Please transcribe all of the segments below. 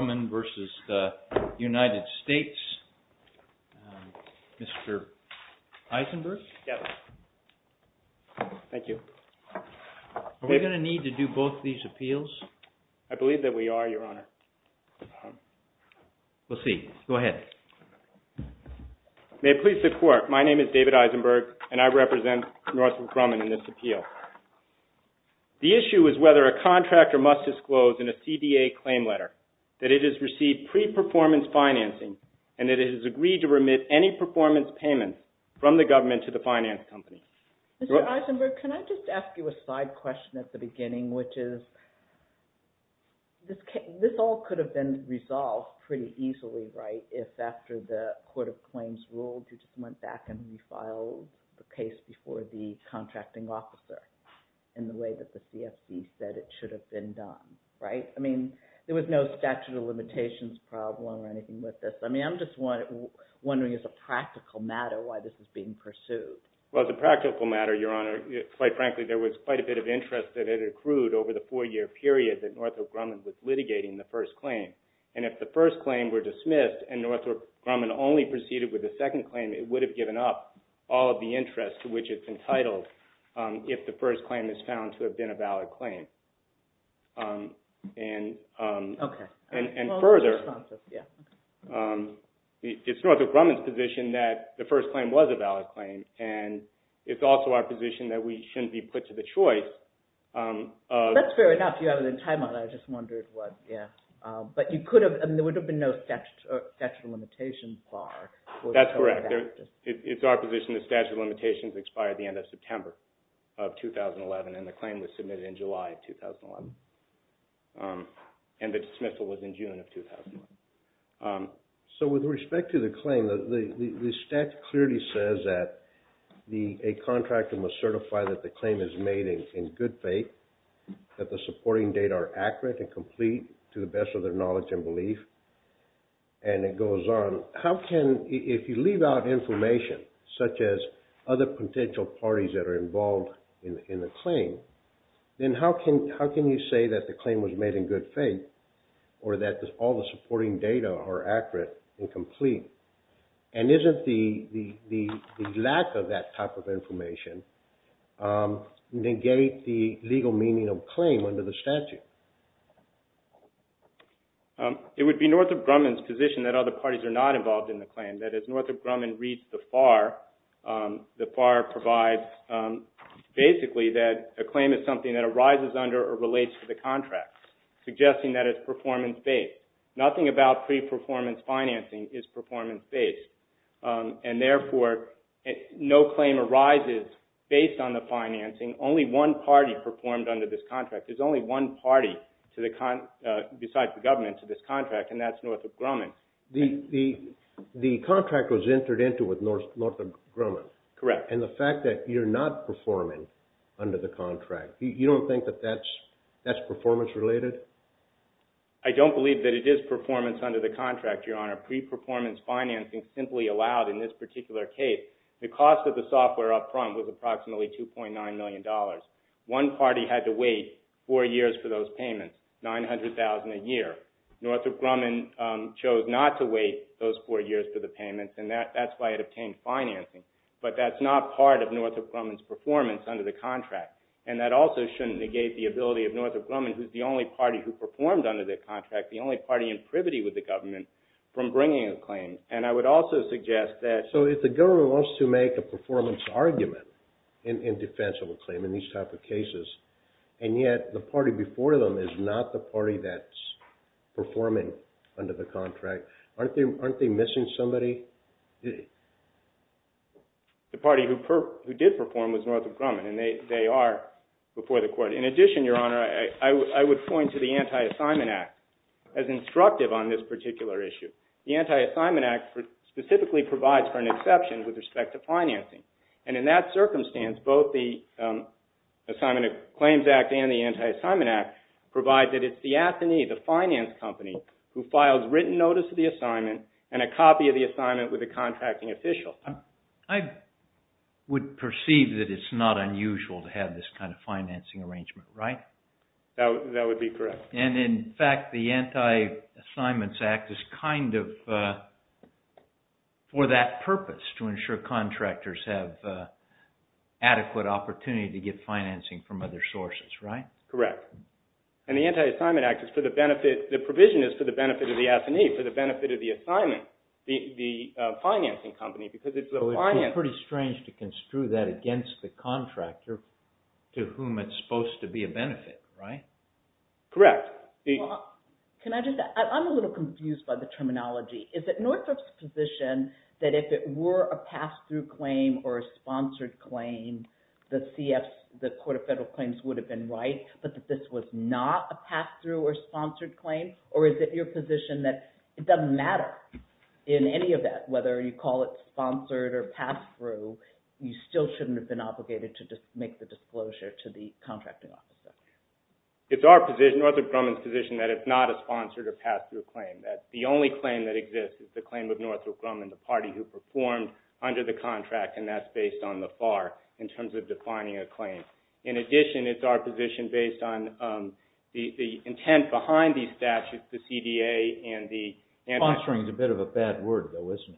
v. Mr. Eisenberg, are we going to need to do both these appeals? I believe that we are, your honor. May it please the Court, my name is David Eisenberg and I represent Northrop Grumman in this appeal. The issue is whether a contractor must disclose in a CDA claim letter that it has received pre-performance financing and that it has agreed to remit any performance payment from the government to the finance company. Mr. Eisenberg, can I just ask you a side question at the beginning, which is, this all could have been resolved pretty easily, right, if after the Court of Claims ruled you went back and refiled the case before the contracting officer in the way that the CFP said it should have been done, right? I mean, there was no statute of limitations problem or anything with this. I mean, I'm just wondering as a practical matter why this is being pursued. Well, as a practical matter, your honor, quite frankly there was quite a bit of interest that had accrued over the four-year period that Northrop Grumman was litigating the first claim and if the first claim were dismissed and Northrop Grumman only proceeded with the second claim, it would have given up all of the interest to which it's entitled if the first claim is found to have been a valid claim. Okay. And further, it's Northrop Grumman's position that the first claim was a valid claim and it's also our position that we shouldn't be put to the choice. That's fair enough. You have it in timeout. I just wondered what, yeah, but you could have, there would have been no statute of limitations bar. That's correct. It's our position the statute of limitations expired the end of September of 2011 and the claim was submitted in July of 2011 and the dismissal was in June of 2011. So with respect to the claim, the statute clearly says that a contractor must certify that the claim is made in good faith, that the supporting data are correct based on their knowledge and belief. And it goes on, how can, if you leave out information such as other potential parties that are involved in the claim, then how can you say that the claim was made in good faith or that all the supporting data are accurate and complete and isn't the lack of that type of information negate the legal meaning of claim under the statute? It would be Northrop Grumman's position that other parties are not involved in the claim. That as Northrop Grumman reads the FAR, the FAR provides basically that a claim is something that arises under or relates to the contract, suggesting that it's performance-based. Nothing about pre-performance financing is performance-based and therefore no claim arises based on the financing. Only one party performed under this contract. There's only one party to the, besides the government, to this contract and that's Northrop Grumman. The contract was entered into with Northrop Grumman. Correct. And the fact that you're not performing under the contract, you don't think that that's performance-related? I don't believe that it is performance under the contract, your honor. Pre-performance financing simply allowed in this particular case. The cost of the software up front was approximately 2.9 million dollars. One party had to wait four years for those payments, 900,000 a year. Northrop Grumman chose not to wait those four years for the payments and that's why it obtained financing. But that's not part of Northrop Grumman's performance under the contract and that also shouldn't negate the ability of Northrop Grumman, who's the only party who performed under the contract, the only party in privity with the government, from bringing a claim. And I would also suggest that... So if the government wants to make a performance argument in defense of a case and yet the party before them is not the party that's performing under the contract, aren't they missing somebody? The party who did perform was Northrop Grumman and they are before the court. In addition, your honor, I would point to the Anti-Assignment Act as instructive on this particular issue. The Anti-Assignment Act specifically provides for an exception with respect to financing. And in that circumstance, both the Assignment and Claims Act and the Anti-Assignment Act provide that it's the AFNI, the finance company, who files written notice of the assignment and a copy of the assignment with the contracting official. I would perceive that it's not unusual to have this kind of financing arrangement, right? That would be correct. And in fact, the Anti-Assignments Act is kind of for that opportunity to get financing from other sources, right? Correct. And the Anti-Assignment Act is for the benefit... The provision is for the benefit of the AFNI, for the benefit of the assignment, the financing company, because it's the finance... So it would be pretty strange to construe that against the contractor to whom it's supposed to be a benefit, right? Correct. Can I just... I'm a little confused by the terminology. Is it Northrop's position that if it were a pass-through claim or a sponsored claim, the CF, the Court of Federal Claims would have been right, but that this was not a pass-through or sponsored claim? Or is it your position that it doesn't matter in any of that, whether you call it sponsored or pass-through, you still shouldn't have been obligated to just make the disclosure to the contracting officer? It's our position, Northrop Grumman's position, that it's not a sponsored or pass-through claim. That the only claim that exists is the claim of Northrop Grumman, the party who performed under the contract, and that's based on the FAR in terms of defining a claim. In addition, it's our position based on the intent behind these statutes, the CDA and the... Sponsoring is a bit of a bad word, though, isn't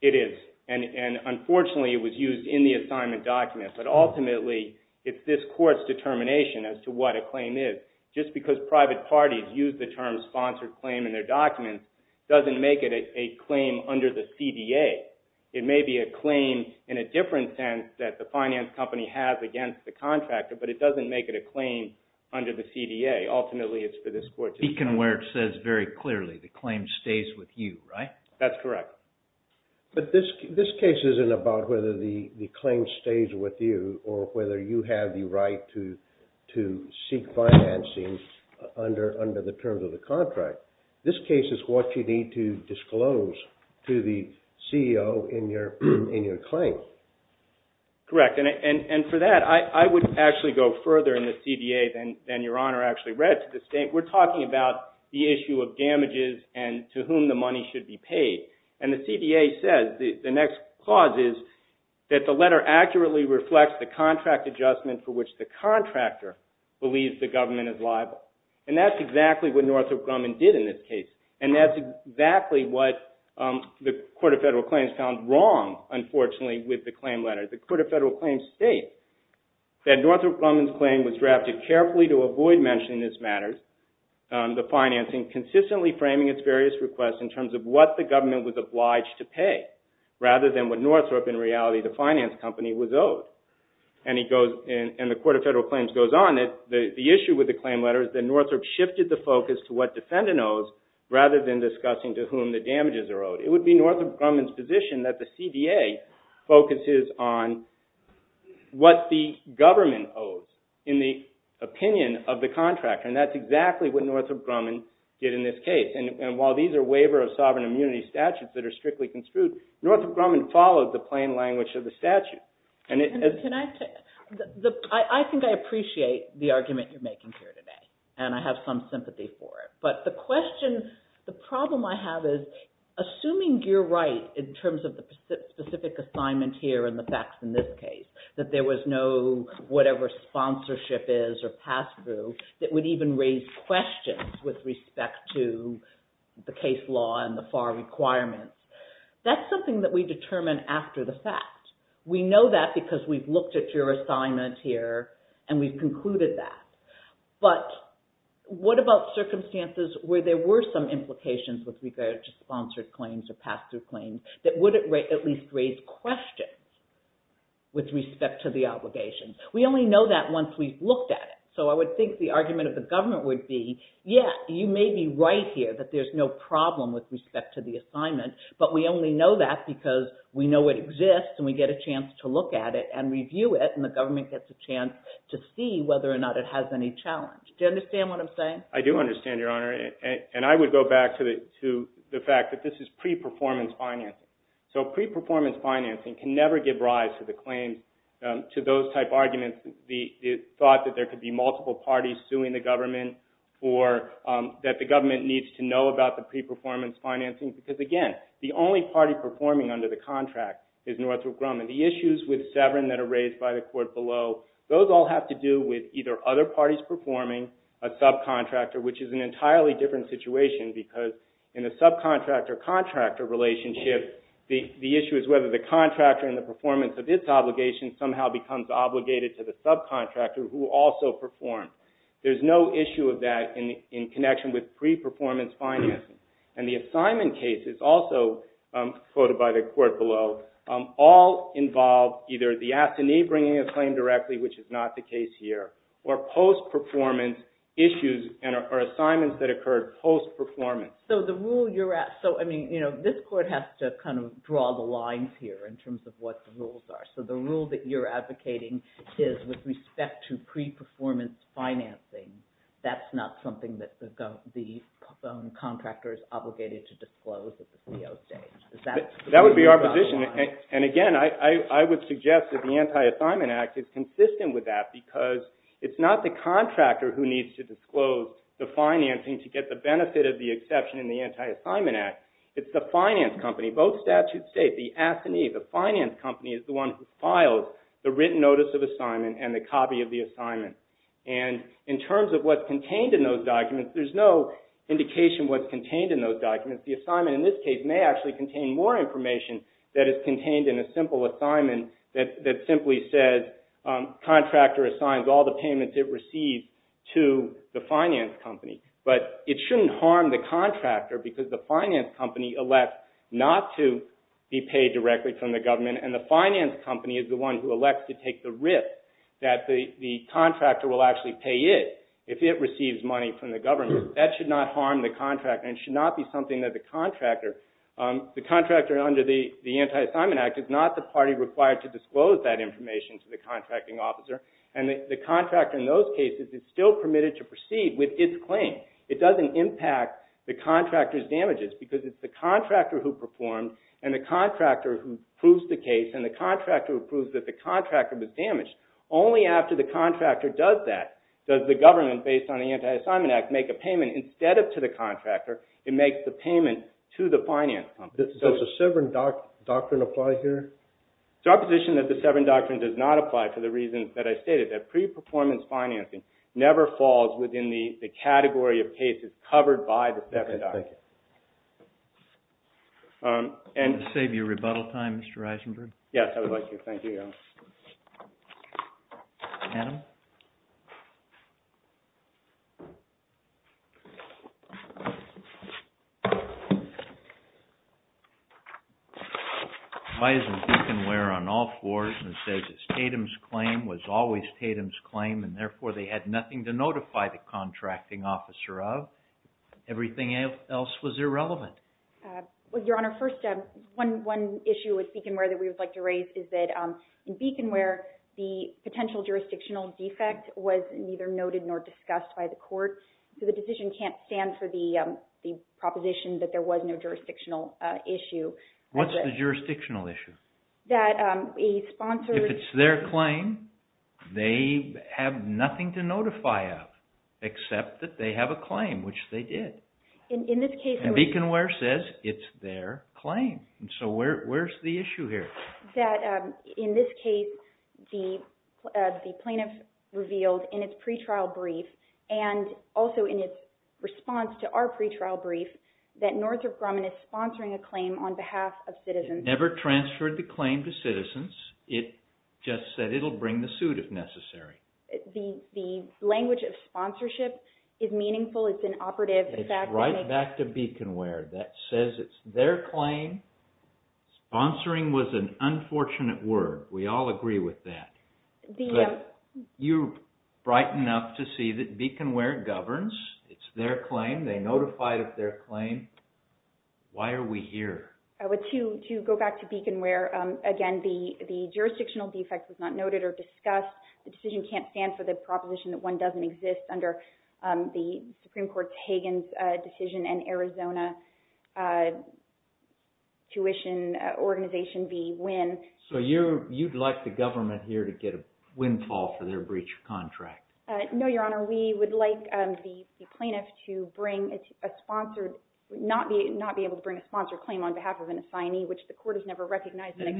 it? It is. And unfortunately, it was used in the assignment document, but ultimately, it's this court's determination as to what a claim is. Just because private parties use the term sponsored claim in their documents doesn't make it a claim under the CDA. It may be a claim in a different sense that the finance company has against the contractor, but it doesn't make it a claim under the CDA. Ultimately, it's for this court's... Speaking of where it says very clearly, the claim stays with you, right? That's correct. But this case isn't about whether the claim stays with you or whether you have the right to seek financing under the terms of the contract. This case is what you need to correct. And for that, I would actually go further in the CDA than your Honor actually read to the state. We're talking about the issue of damages and to whom the money should be paid. And the CDA says the next clause is that the letter accurately reflects the contract adjustment for which the contractor believes the government is liable. And that's exactly what Northrop Grumman did in this case. And that's exactly what the Court of Federal Claims found wrong, unfortunately, with the claim letter. The Court of Federal Claims states that Northrop Grumman's claim was drafted carefully to avoid mentioning this matter, the financing, consistently framing its various requests in terms of what the government was obliged to pay rather than what Northrop, in reality, the finance company, was owed. And the Court of Federal Claims goes on that the issue with the claim letter is that Northrop shifted the focus to what defendant owes rather than discussing to whom the damages are owed. It would be that the CDA focuses on what the government owes in the opinion of the contractor. And that's exactly what Northrop Grumman did in this case. And while these are waiver of sovereign immunity statutes that are strictly construed, Northrop Grumman followed the plain language of the statute. I think I appreciate the argument you're making here today and I have some sympathy for it. But the question, the problem I have is, assuming you're right in terms of the specific assignment here and the facts in this case, that there was no whatever sponsorship is or pass-through that would even raise questions with respect to the case law and the FAR requirements. That's something that we determine after the fact. We know that because we've looked at your assignment here and we've concluded that. But what about circumstances where there were some implications with regard to sponsored claims or pass-through claims that would at least raise questions with respect to the obligations? We only know that once we've looked at it. So I would think the argument of the government would be, yes, you may be right here that there's no problem with respect to the assignment. But we only know that because we know it exists and we get a chance to look at it and review it and the government gets a chance to see whether or not it has any challenge. Do you understand what I'm saying? I do understand, Your Honor. And I would go back to the fact that this is pre-performance financing. So pre-performance financing can never give rise to the claims, to those type arguments, the thought that there could be multiple parties suing the government or that the government needs to know about the pre-performance financing because, again, the only party performing under the contract is Northrop Grumman. The issues with Severin that are raised by the court below, those all have to do with either other parties performing, a subcontractor, which is an entirely different situation because in a subcontractor-contractor relationship, the issue is whether the contractor in the performance of its obligation somehow becomes obligated to the subcontractor who also performed. There's no issue of that in connection with pre-performance financing. And the assignment cases, also quoted by the court below, all involve either the assignee bringing a claim directly, which is not the case here, or post-performance issues or post-performance. So the rule you're at, so I mean, you know, this court has to kind of draw the lines here in terms of what the rules are. So the rule that you're advocating is with respect to pre-performance financing, that's not something that the contractors obligated to disclose at the CO stage. That would be our position, and again, I would suggest that the Anti-Assignment Act is consistent with that because it's not the contractor who needs to disclose the financing to get the benefit of the exception in the Anti-Assignment Act. It's the finance company, both statute state, the assignee, the finance company is the one who files the written notice of assignment and the copy of the assignment. And in terms of what's contained in those documents, there's no indication what's contained in those documents. The assignment in this case may actually contain more information that is contained in a simple assignment that simply says, contractor assigns all the payments it receives to the finance company. But it shouldn't harm the contractor because the finance company elects not to be paid directly from the government, and the finance company is the one who elects to take the risk that the contractor will actually pay it if it receives money from the government. That should not harm the contractor and should not be something that the contractor, the contractor under the Anti-Assignment Act is not the party required to disclose that information to the contracting officer. And the contractor in those documents should proceed with its claim. It doesn't impact the contractor's damages because it's the contractor who performed, and the contractor who proves the case, and the contractor who proves that the contractor was damaged. Only after the contractor does that does the government, based on the Anti-Assignment Act, make a payment instead of to the contractor, it makes the payment to the finance company. Does the Severn Doctrine apply here? It's our position that the Severn Doctrine does not apply for the reason that I stated, that pre-performance financing never falls within the category of cases covered by the Severn Doctrine. Does this save you rebuttal time, Mr. Eisenberg? Yes, I would like to. Thank you, Adam. Adam? Why isn't BeaconWare on all fours and says that Tatum's claim was always Tatum's claim and therefore they had nothing to notify the contracting officer of? Everything else was irrelevant. Well, Your Honor, first, one issue with BeaconWare that we would like to address is that the financial jurisdictional defect was neither noted nor discussed by the court, so the decision can't stand for the proposition that there was no jurisdictional issue. What's the jurisdictional issue? That a sponsor... If it's their claim, they have nothing to notify of, except that they have a claim, which they did. In this case... And BeaconWare says it's their claim, so where's the issue here? In this case, the plaintiff revealed in its pretrial brief and also in its response to our pretrial brief that Northrop Grumman is sponsoring a claim on behalf of citizens. It never transferred the claim to citizens. It just said it'll bring the suit if necessary. The language of sponsorship is meaningful. It's an operative fact... It's right back to BeaconWare. That says it's their claim. Sponsoring was an unfortunate word. We all agree with that. But you're bright enough to see that BeaconWare governs. It's their claim. They notified of their claim. Why are we here? To go back to BeaconWare, again, the jurisdictional defect was not noted or discussed. The decision can't stand for the proposition that one doesn't exist under the Supreme Court's Hagan's decision and Arizona tuition organization be win. So you'd like the government here to get a windfall for their breach of contract? No, Your Honor. We would like the plaintiff to not be able to bring a sponsored claim on behalf of an assignee, which the court has never recognized. The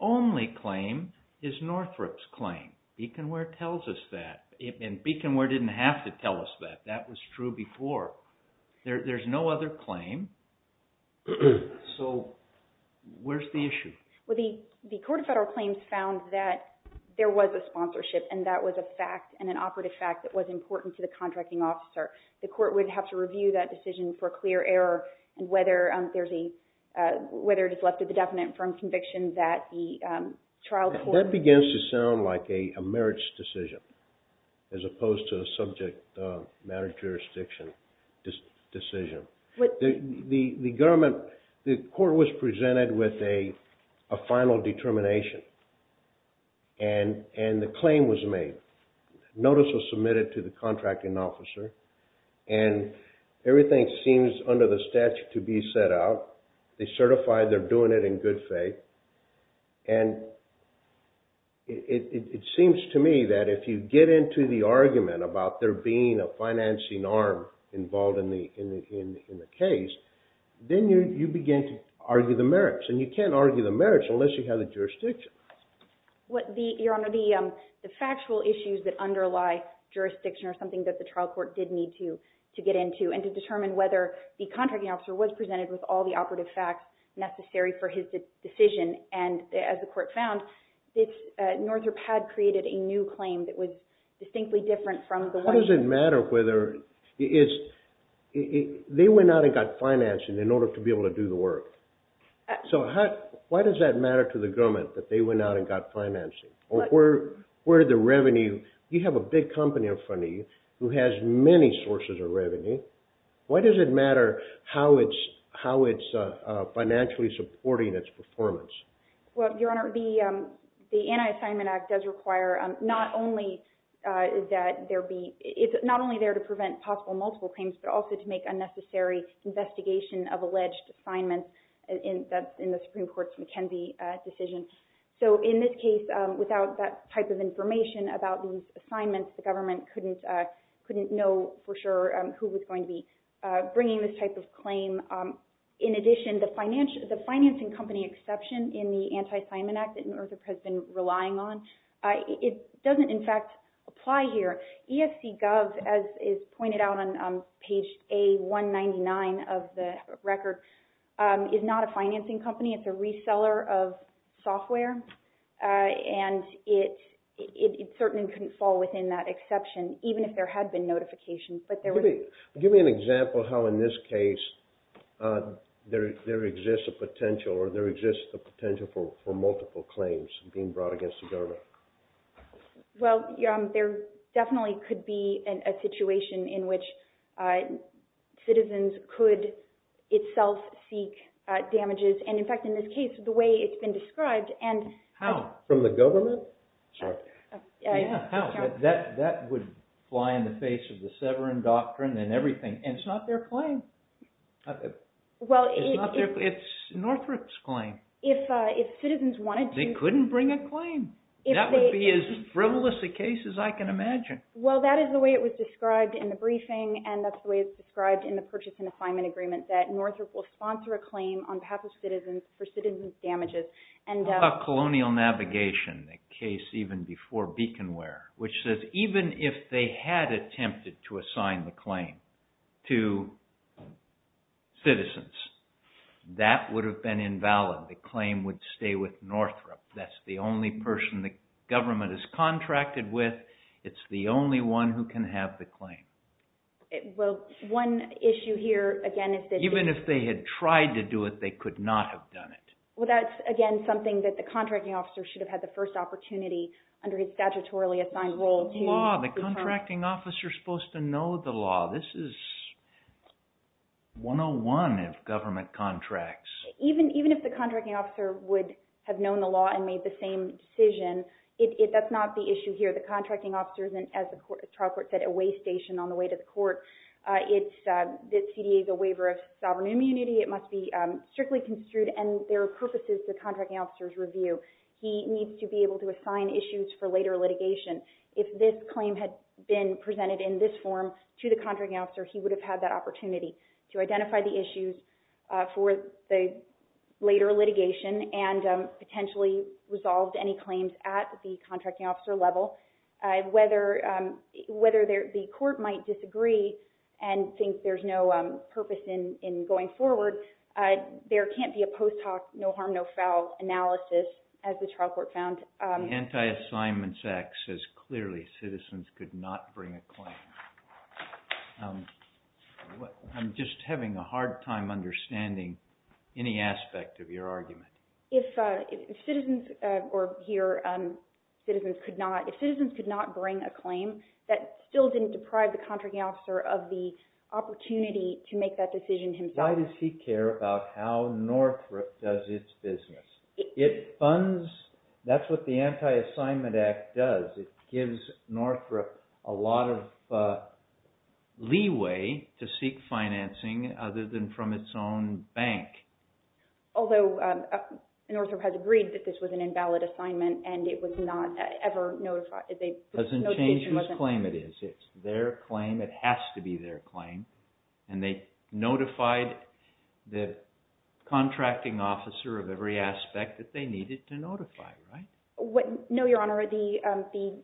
only claim is Northrop's claim. BeaconWare tells us that. And BeaconWare didn't have to tell us that. That was true before. There's no other claim. So where's the issue? Well, the court of federal claims found that there was a sponsorship and that was a fact and an operative fact that was important to the contracting officer. The court would have to review that decision for clear error and whether there's a – whether it has left the definite firm conviction that the trial court – as opposed to a subject matter jurisdiction decision. The government – the court was presented with a final determination. And the claim was made. Notice was submitted to the contracting officer. And everything seems under the statute to be set out. They certified they're doing it in good faith. And it seems to me that if you get into the argument about there being a financing arm involved in the case, then you begin to argue the merits. And you can't argue the merits unless you have the jurisdiction. Your Honor, the factual issues that underlie jurisdiction are something that the trial court did need to get into and to determine whether the contracting officer was presented with all the operative facts necessary for his decision. And as the court found, Northrop had created a new claim that was distinctly different from the one – How does it matter whether – is – they went out and got financing in order to be able to do the work. So how – why does that matter to the government that they went out and got financing? Or where did the revenue – you have a big company in front of you who has many sources of revenue. Why does it matter how it's financially supporting its performance? Well, Your Honor, the Anti-Assignment Act does require not only that there be – it's not only there to prevent possible multiple claims, but also to make a necessary investigation of alleged assignments in the Supreme Court's McKenzie decision. So in this case, without that type of information about these assignments, the government couldn't know for sure who was going to be bringing this type of claim. In addition, the financing company exception in the Anti-Assignment Act that Northrop has been relying on, it doesn't in fact apply here. ESCGov, as is pointed out on page A199 of the record, is not a financing company. It's a reseller of software. And it certainly couldn't fall within that exception, even if there had been notifications. Give me an example how in this case there exists a potential or there exists a potential for multiple claims being brought against the government. Well, Your Honor, there definitely could be a situation in which citizens could itself seek damages. And in fact, in this case, the way it's been described and – How? From the government? Sorry. Yeah, how? That would fly in the face of the Severan Doctrine and everything. And it's not their claim. It's Northrop's claim. If citizens wanted to – They couldn't bring a claim. That would be as frivolous a case as I can imagine. Well, that is the way it was described in the briefing, and that's the way it's described in the Purchase and Assignment Agreement, that Northrop will sponsor a claim on behalf of citizens for citizens' damages. How about Colonial Navigation, a case even before Beaconware, which says even if they had attempted to assign the claim to citizens, that would have been invalid. The claim would stay with Northrop. That's the only person the government has contracted with. It's the only one who can have the claim. Well, one issue here, again, is that – Even if they had tried to do it, they could not have done it. Well, that's, again, something that the contracting officer should have had the first opportunity under his statutorily assigned role to – It's the law. The contracting officer is supposed to know the law. This is 101 of government contracts. Even if the contracting officer would have known the law and made the same decision, that's not the issue here. The contracting officer isn't, as the trial court said, a way station on the way to the court. The CDA is a waiver of sovereign immunity. It must be strictly construed, and there are purposes the contracting officer's review. He needs to be able to assign issues for later litigation. If this claim had been presented in this form to the contracting officer, he would have had that opportunity to identify the issues for the later litigation and potentially resolved any claims at the contracting officer level. Whether the court might disagree and think there's no purpose in going forward, there can't be a post hoc no harm, no foul analysis, as the trial court found. The Anti-Assignments Act says clearly citizens could not bring a claim. I'm just having a hard time understanding any aspect of your argument. If citizens could not bring a claim, that still didn't deprive the contracting officer of the opportunity to make that decision himself. Why does he care about how Northrop does its business? It funds, that's what the Anti-Assignment Act does. It gives Northrop a lot of leeway to seek financing other than from its own bank. Although Northrop has agreed that this was an invalid assignment and it was not ever notified. It doesn't change whose claim it is. It's their claim. It has to be their claim. And they notified the contracting officer of every aspect that they needed to notify, right? No, Your Honor. The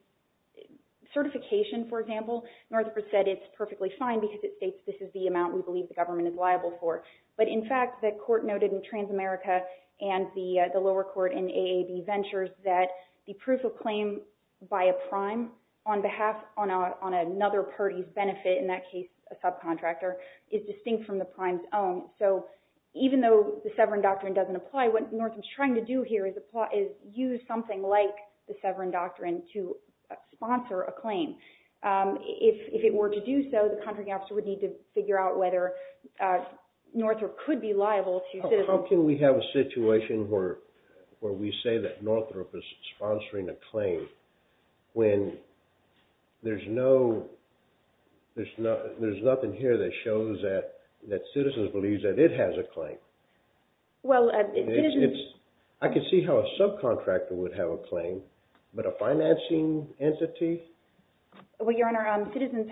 certification, for example, Northrop said it's perfectly fine because it states this is the amount we believe the government is liable for. But in fact, the court noted in Transamerica and the lower court in AAB Ventures that the proof of claim by a prime on behalf on another party's benefit, in that case a subcontractor, is distinct from the prime's own. So even though the Severn Doctrine doesn't apply, what Northrop is trying to do here is use something like the Severn Doctrine to sponsor a claim. If it were to do so, the contracting officer would need to figure out whether Northrop could be liable to citizens. How can we have a situation where we say that Northrop is sponsoring a claim when there's nothing here that shows that citizens believe that it has a claim? Well, citizens... I can see how a subcontractor would have a claim, but a financing entity? Well, Your Honor, citizens,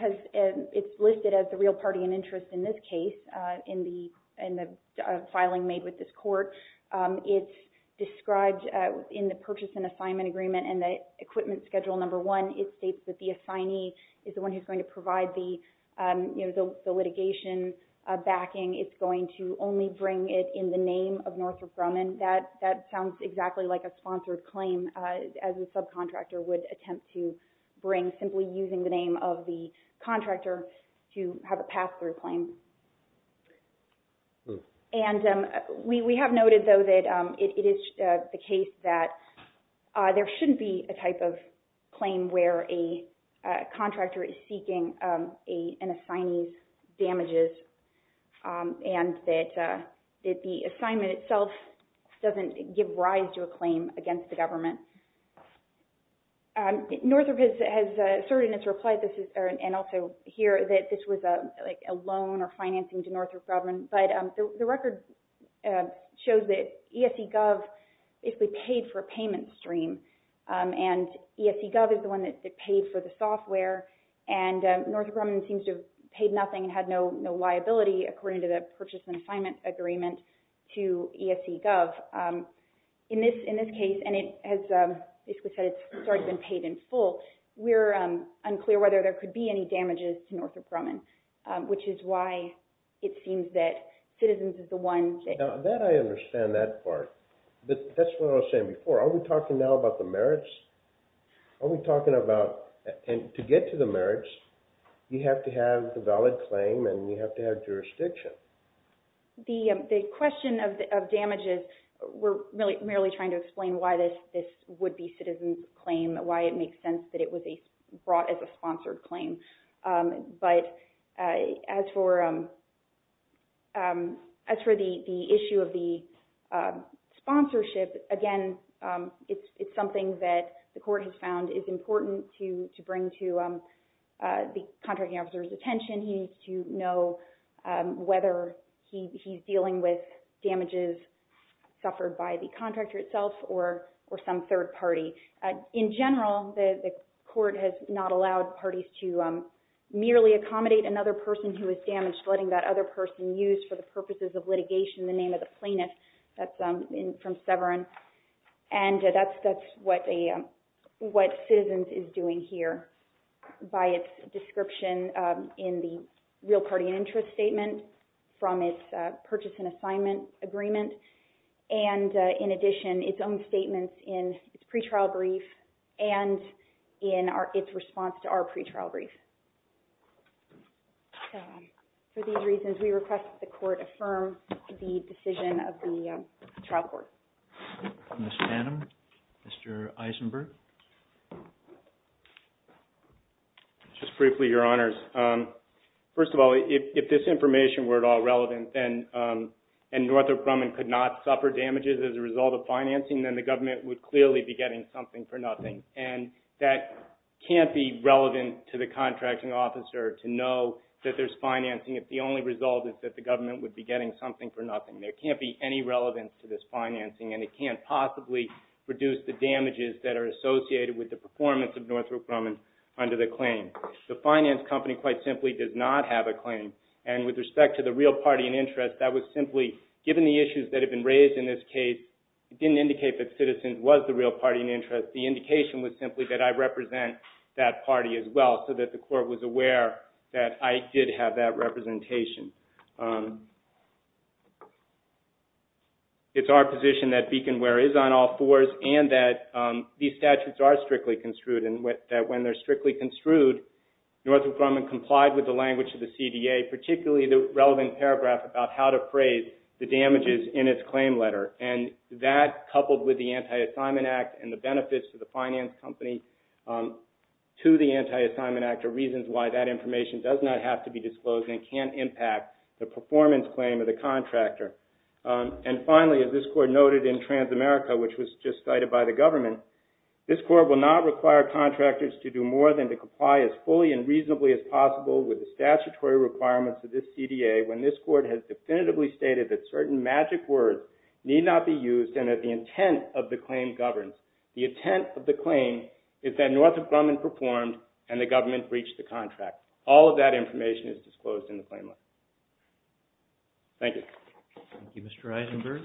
it's listed as the real party in interest in this case in the filing made with this court. It's described in the purchase and assignment agreement and the equipment schedule number one. It states that the assignee is the one who's going to provide the litigation backing. It's going to only bring it in the name of Northrop Grumman. That sounds exactly like a sponsored claim as a subcontractor would attempt to bring simply using the name of the contractor to have a pass-through claim. And we have noted, though, that it is the case that there shouldn't be a type of claim where a contractor is seeking an assignee's damages and that the assignment itself doesn't give rise to a claim against the government. Northrop has asserted in its reply, and also here, that this was a loan or financing to Northrop Grumman, but the record shows that ESCGov basically paid for a payment stream. And ESCGov is the one that paid for the software, and Northrop Grumman seems to have paid nothing and had no liability, according to the purchase and assignment agreement to ESCGov. In this case, and it has basically said it's already been paid in full, we're unclear whether there could be any damages to Northrop Grumman, which is why it seems that Citizens is the one. Now, that I understand that part. But that's what I was saying before. Are we talking now about the merits? Are we talking about, to get to the merits, you have to have the valid claim and you have to have jurisdiction. The question of damages, we're merely trying to explain why this would be Citizens' claim, why it makes sense that it was brought as a sponsored claim. But as for the issue of the sponsorship, again, it's something that the court has found is important to bring to the contracting officer's attention. He needs to know whether he's dealing with damages suffered by the contractor itself or some third party. In general, the court has not allowed parties to merely accommodate another person who is damaged, letting that other person used for the purposes of litigation, the name of the plaintiff. That's from Severance. That's what Citizens is doing here by its description in the real party interest statement from its purchase and assignment agreement and, in addition, its own statements in its pretrial brief and in its response to our pretrial brief. For these reasons, we request that the court affirm the decision of the trial court. Mr. Annam? Mr. Eisenberg? Just briefly, Your Honors. First of all, if this information were at all relevant and Northrop Grumman could not suffer damages as a result of financing, then the government would clearly be getting something for nothing. And that can't be relevant to the contracting officer to know that there's financing. If the only result is that the government would be getting something for nothing. There can't be any relevance to this financing and it can't possibly reduce the damages that are associated with the performance of Northrop Grumman under the claim. The finance company, quite simply, does not have a claim. And with respect to the real party in interest, that was simply, given the issues that have been raised in this case, it didn't indicate that Citizens was the real party in interest. The indication was simply that I represent that party as well, so that the court was aware that I did have that representation. It's our position that beacon wear is on all fours and that these statutes are strictly construed and that when they're strictly construed, Northrop Grumman complied with the language of the CDA, particularly the relevant paragraph about how to phrase the damages in its claim letter. And that, coupled with the Anti-Assignment Act and the benefits to the finance company to the Anti-Assignment Act are reasons why that information does not have to be disclosed and can't impact the performance claim of the contractor. And finally, as this court noted in Transamerica, which was just cited by the government, this court will not require contractors to do more than to comply as fully and reasonably as possible with the statutory requirements of this CDA when this court has definitively stated that certain magic words need not be used and that the intent of the claim governs. The intent of the claim is that Northrop Grumman performed and the government breached the contract. All of that information is disclosed in the claim letter. Thank you. Thank you, Mr. Eisenberg.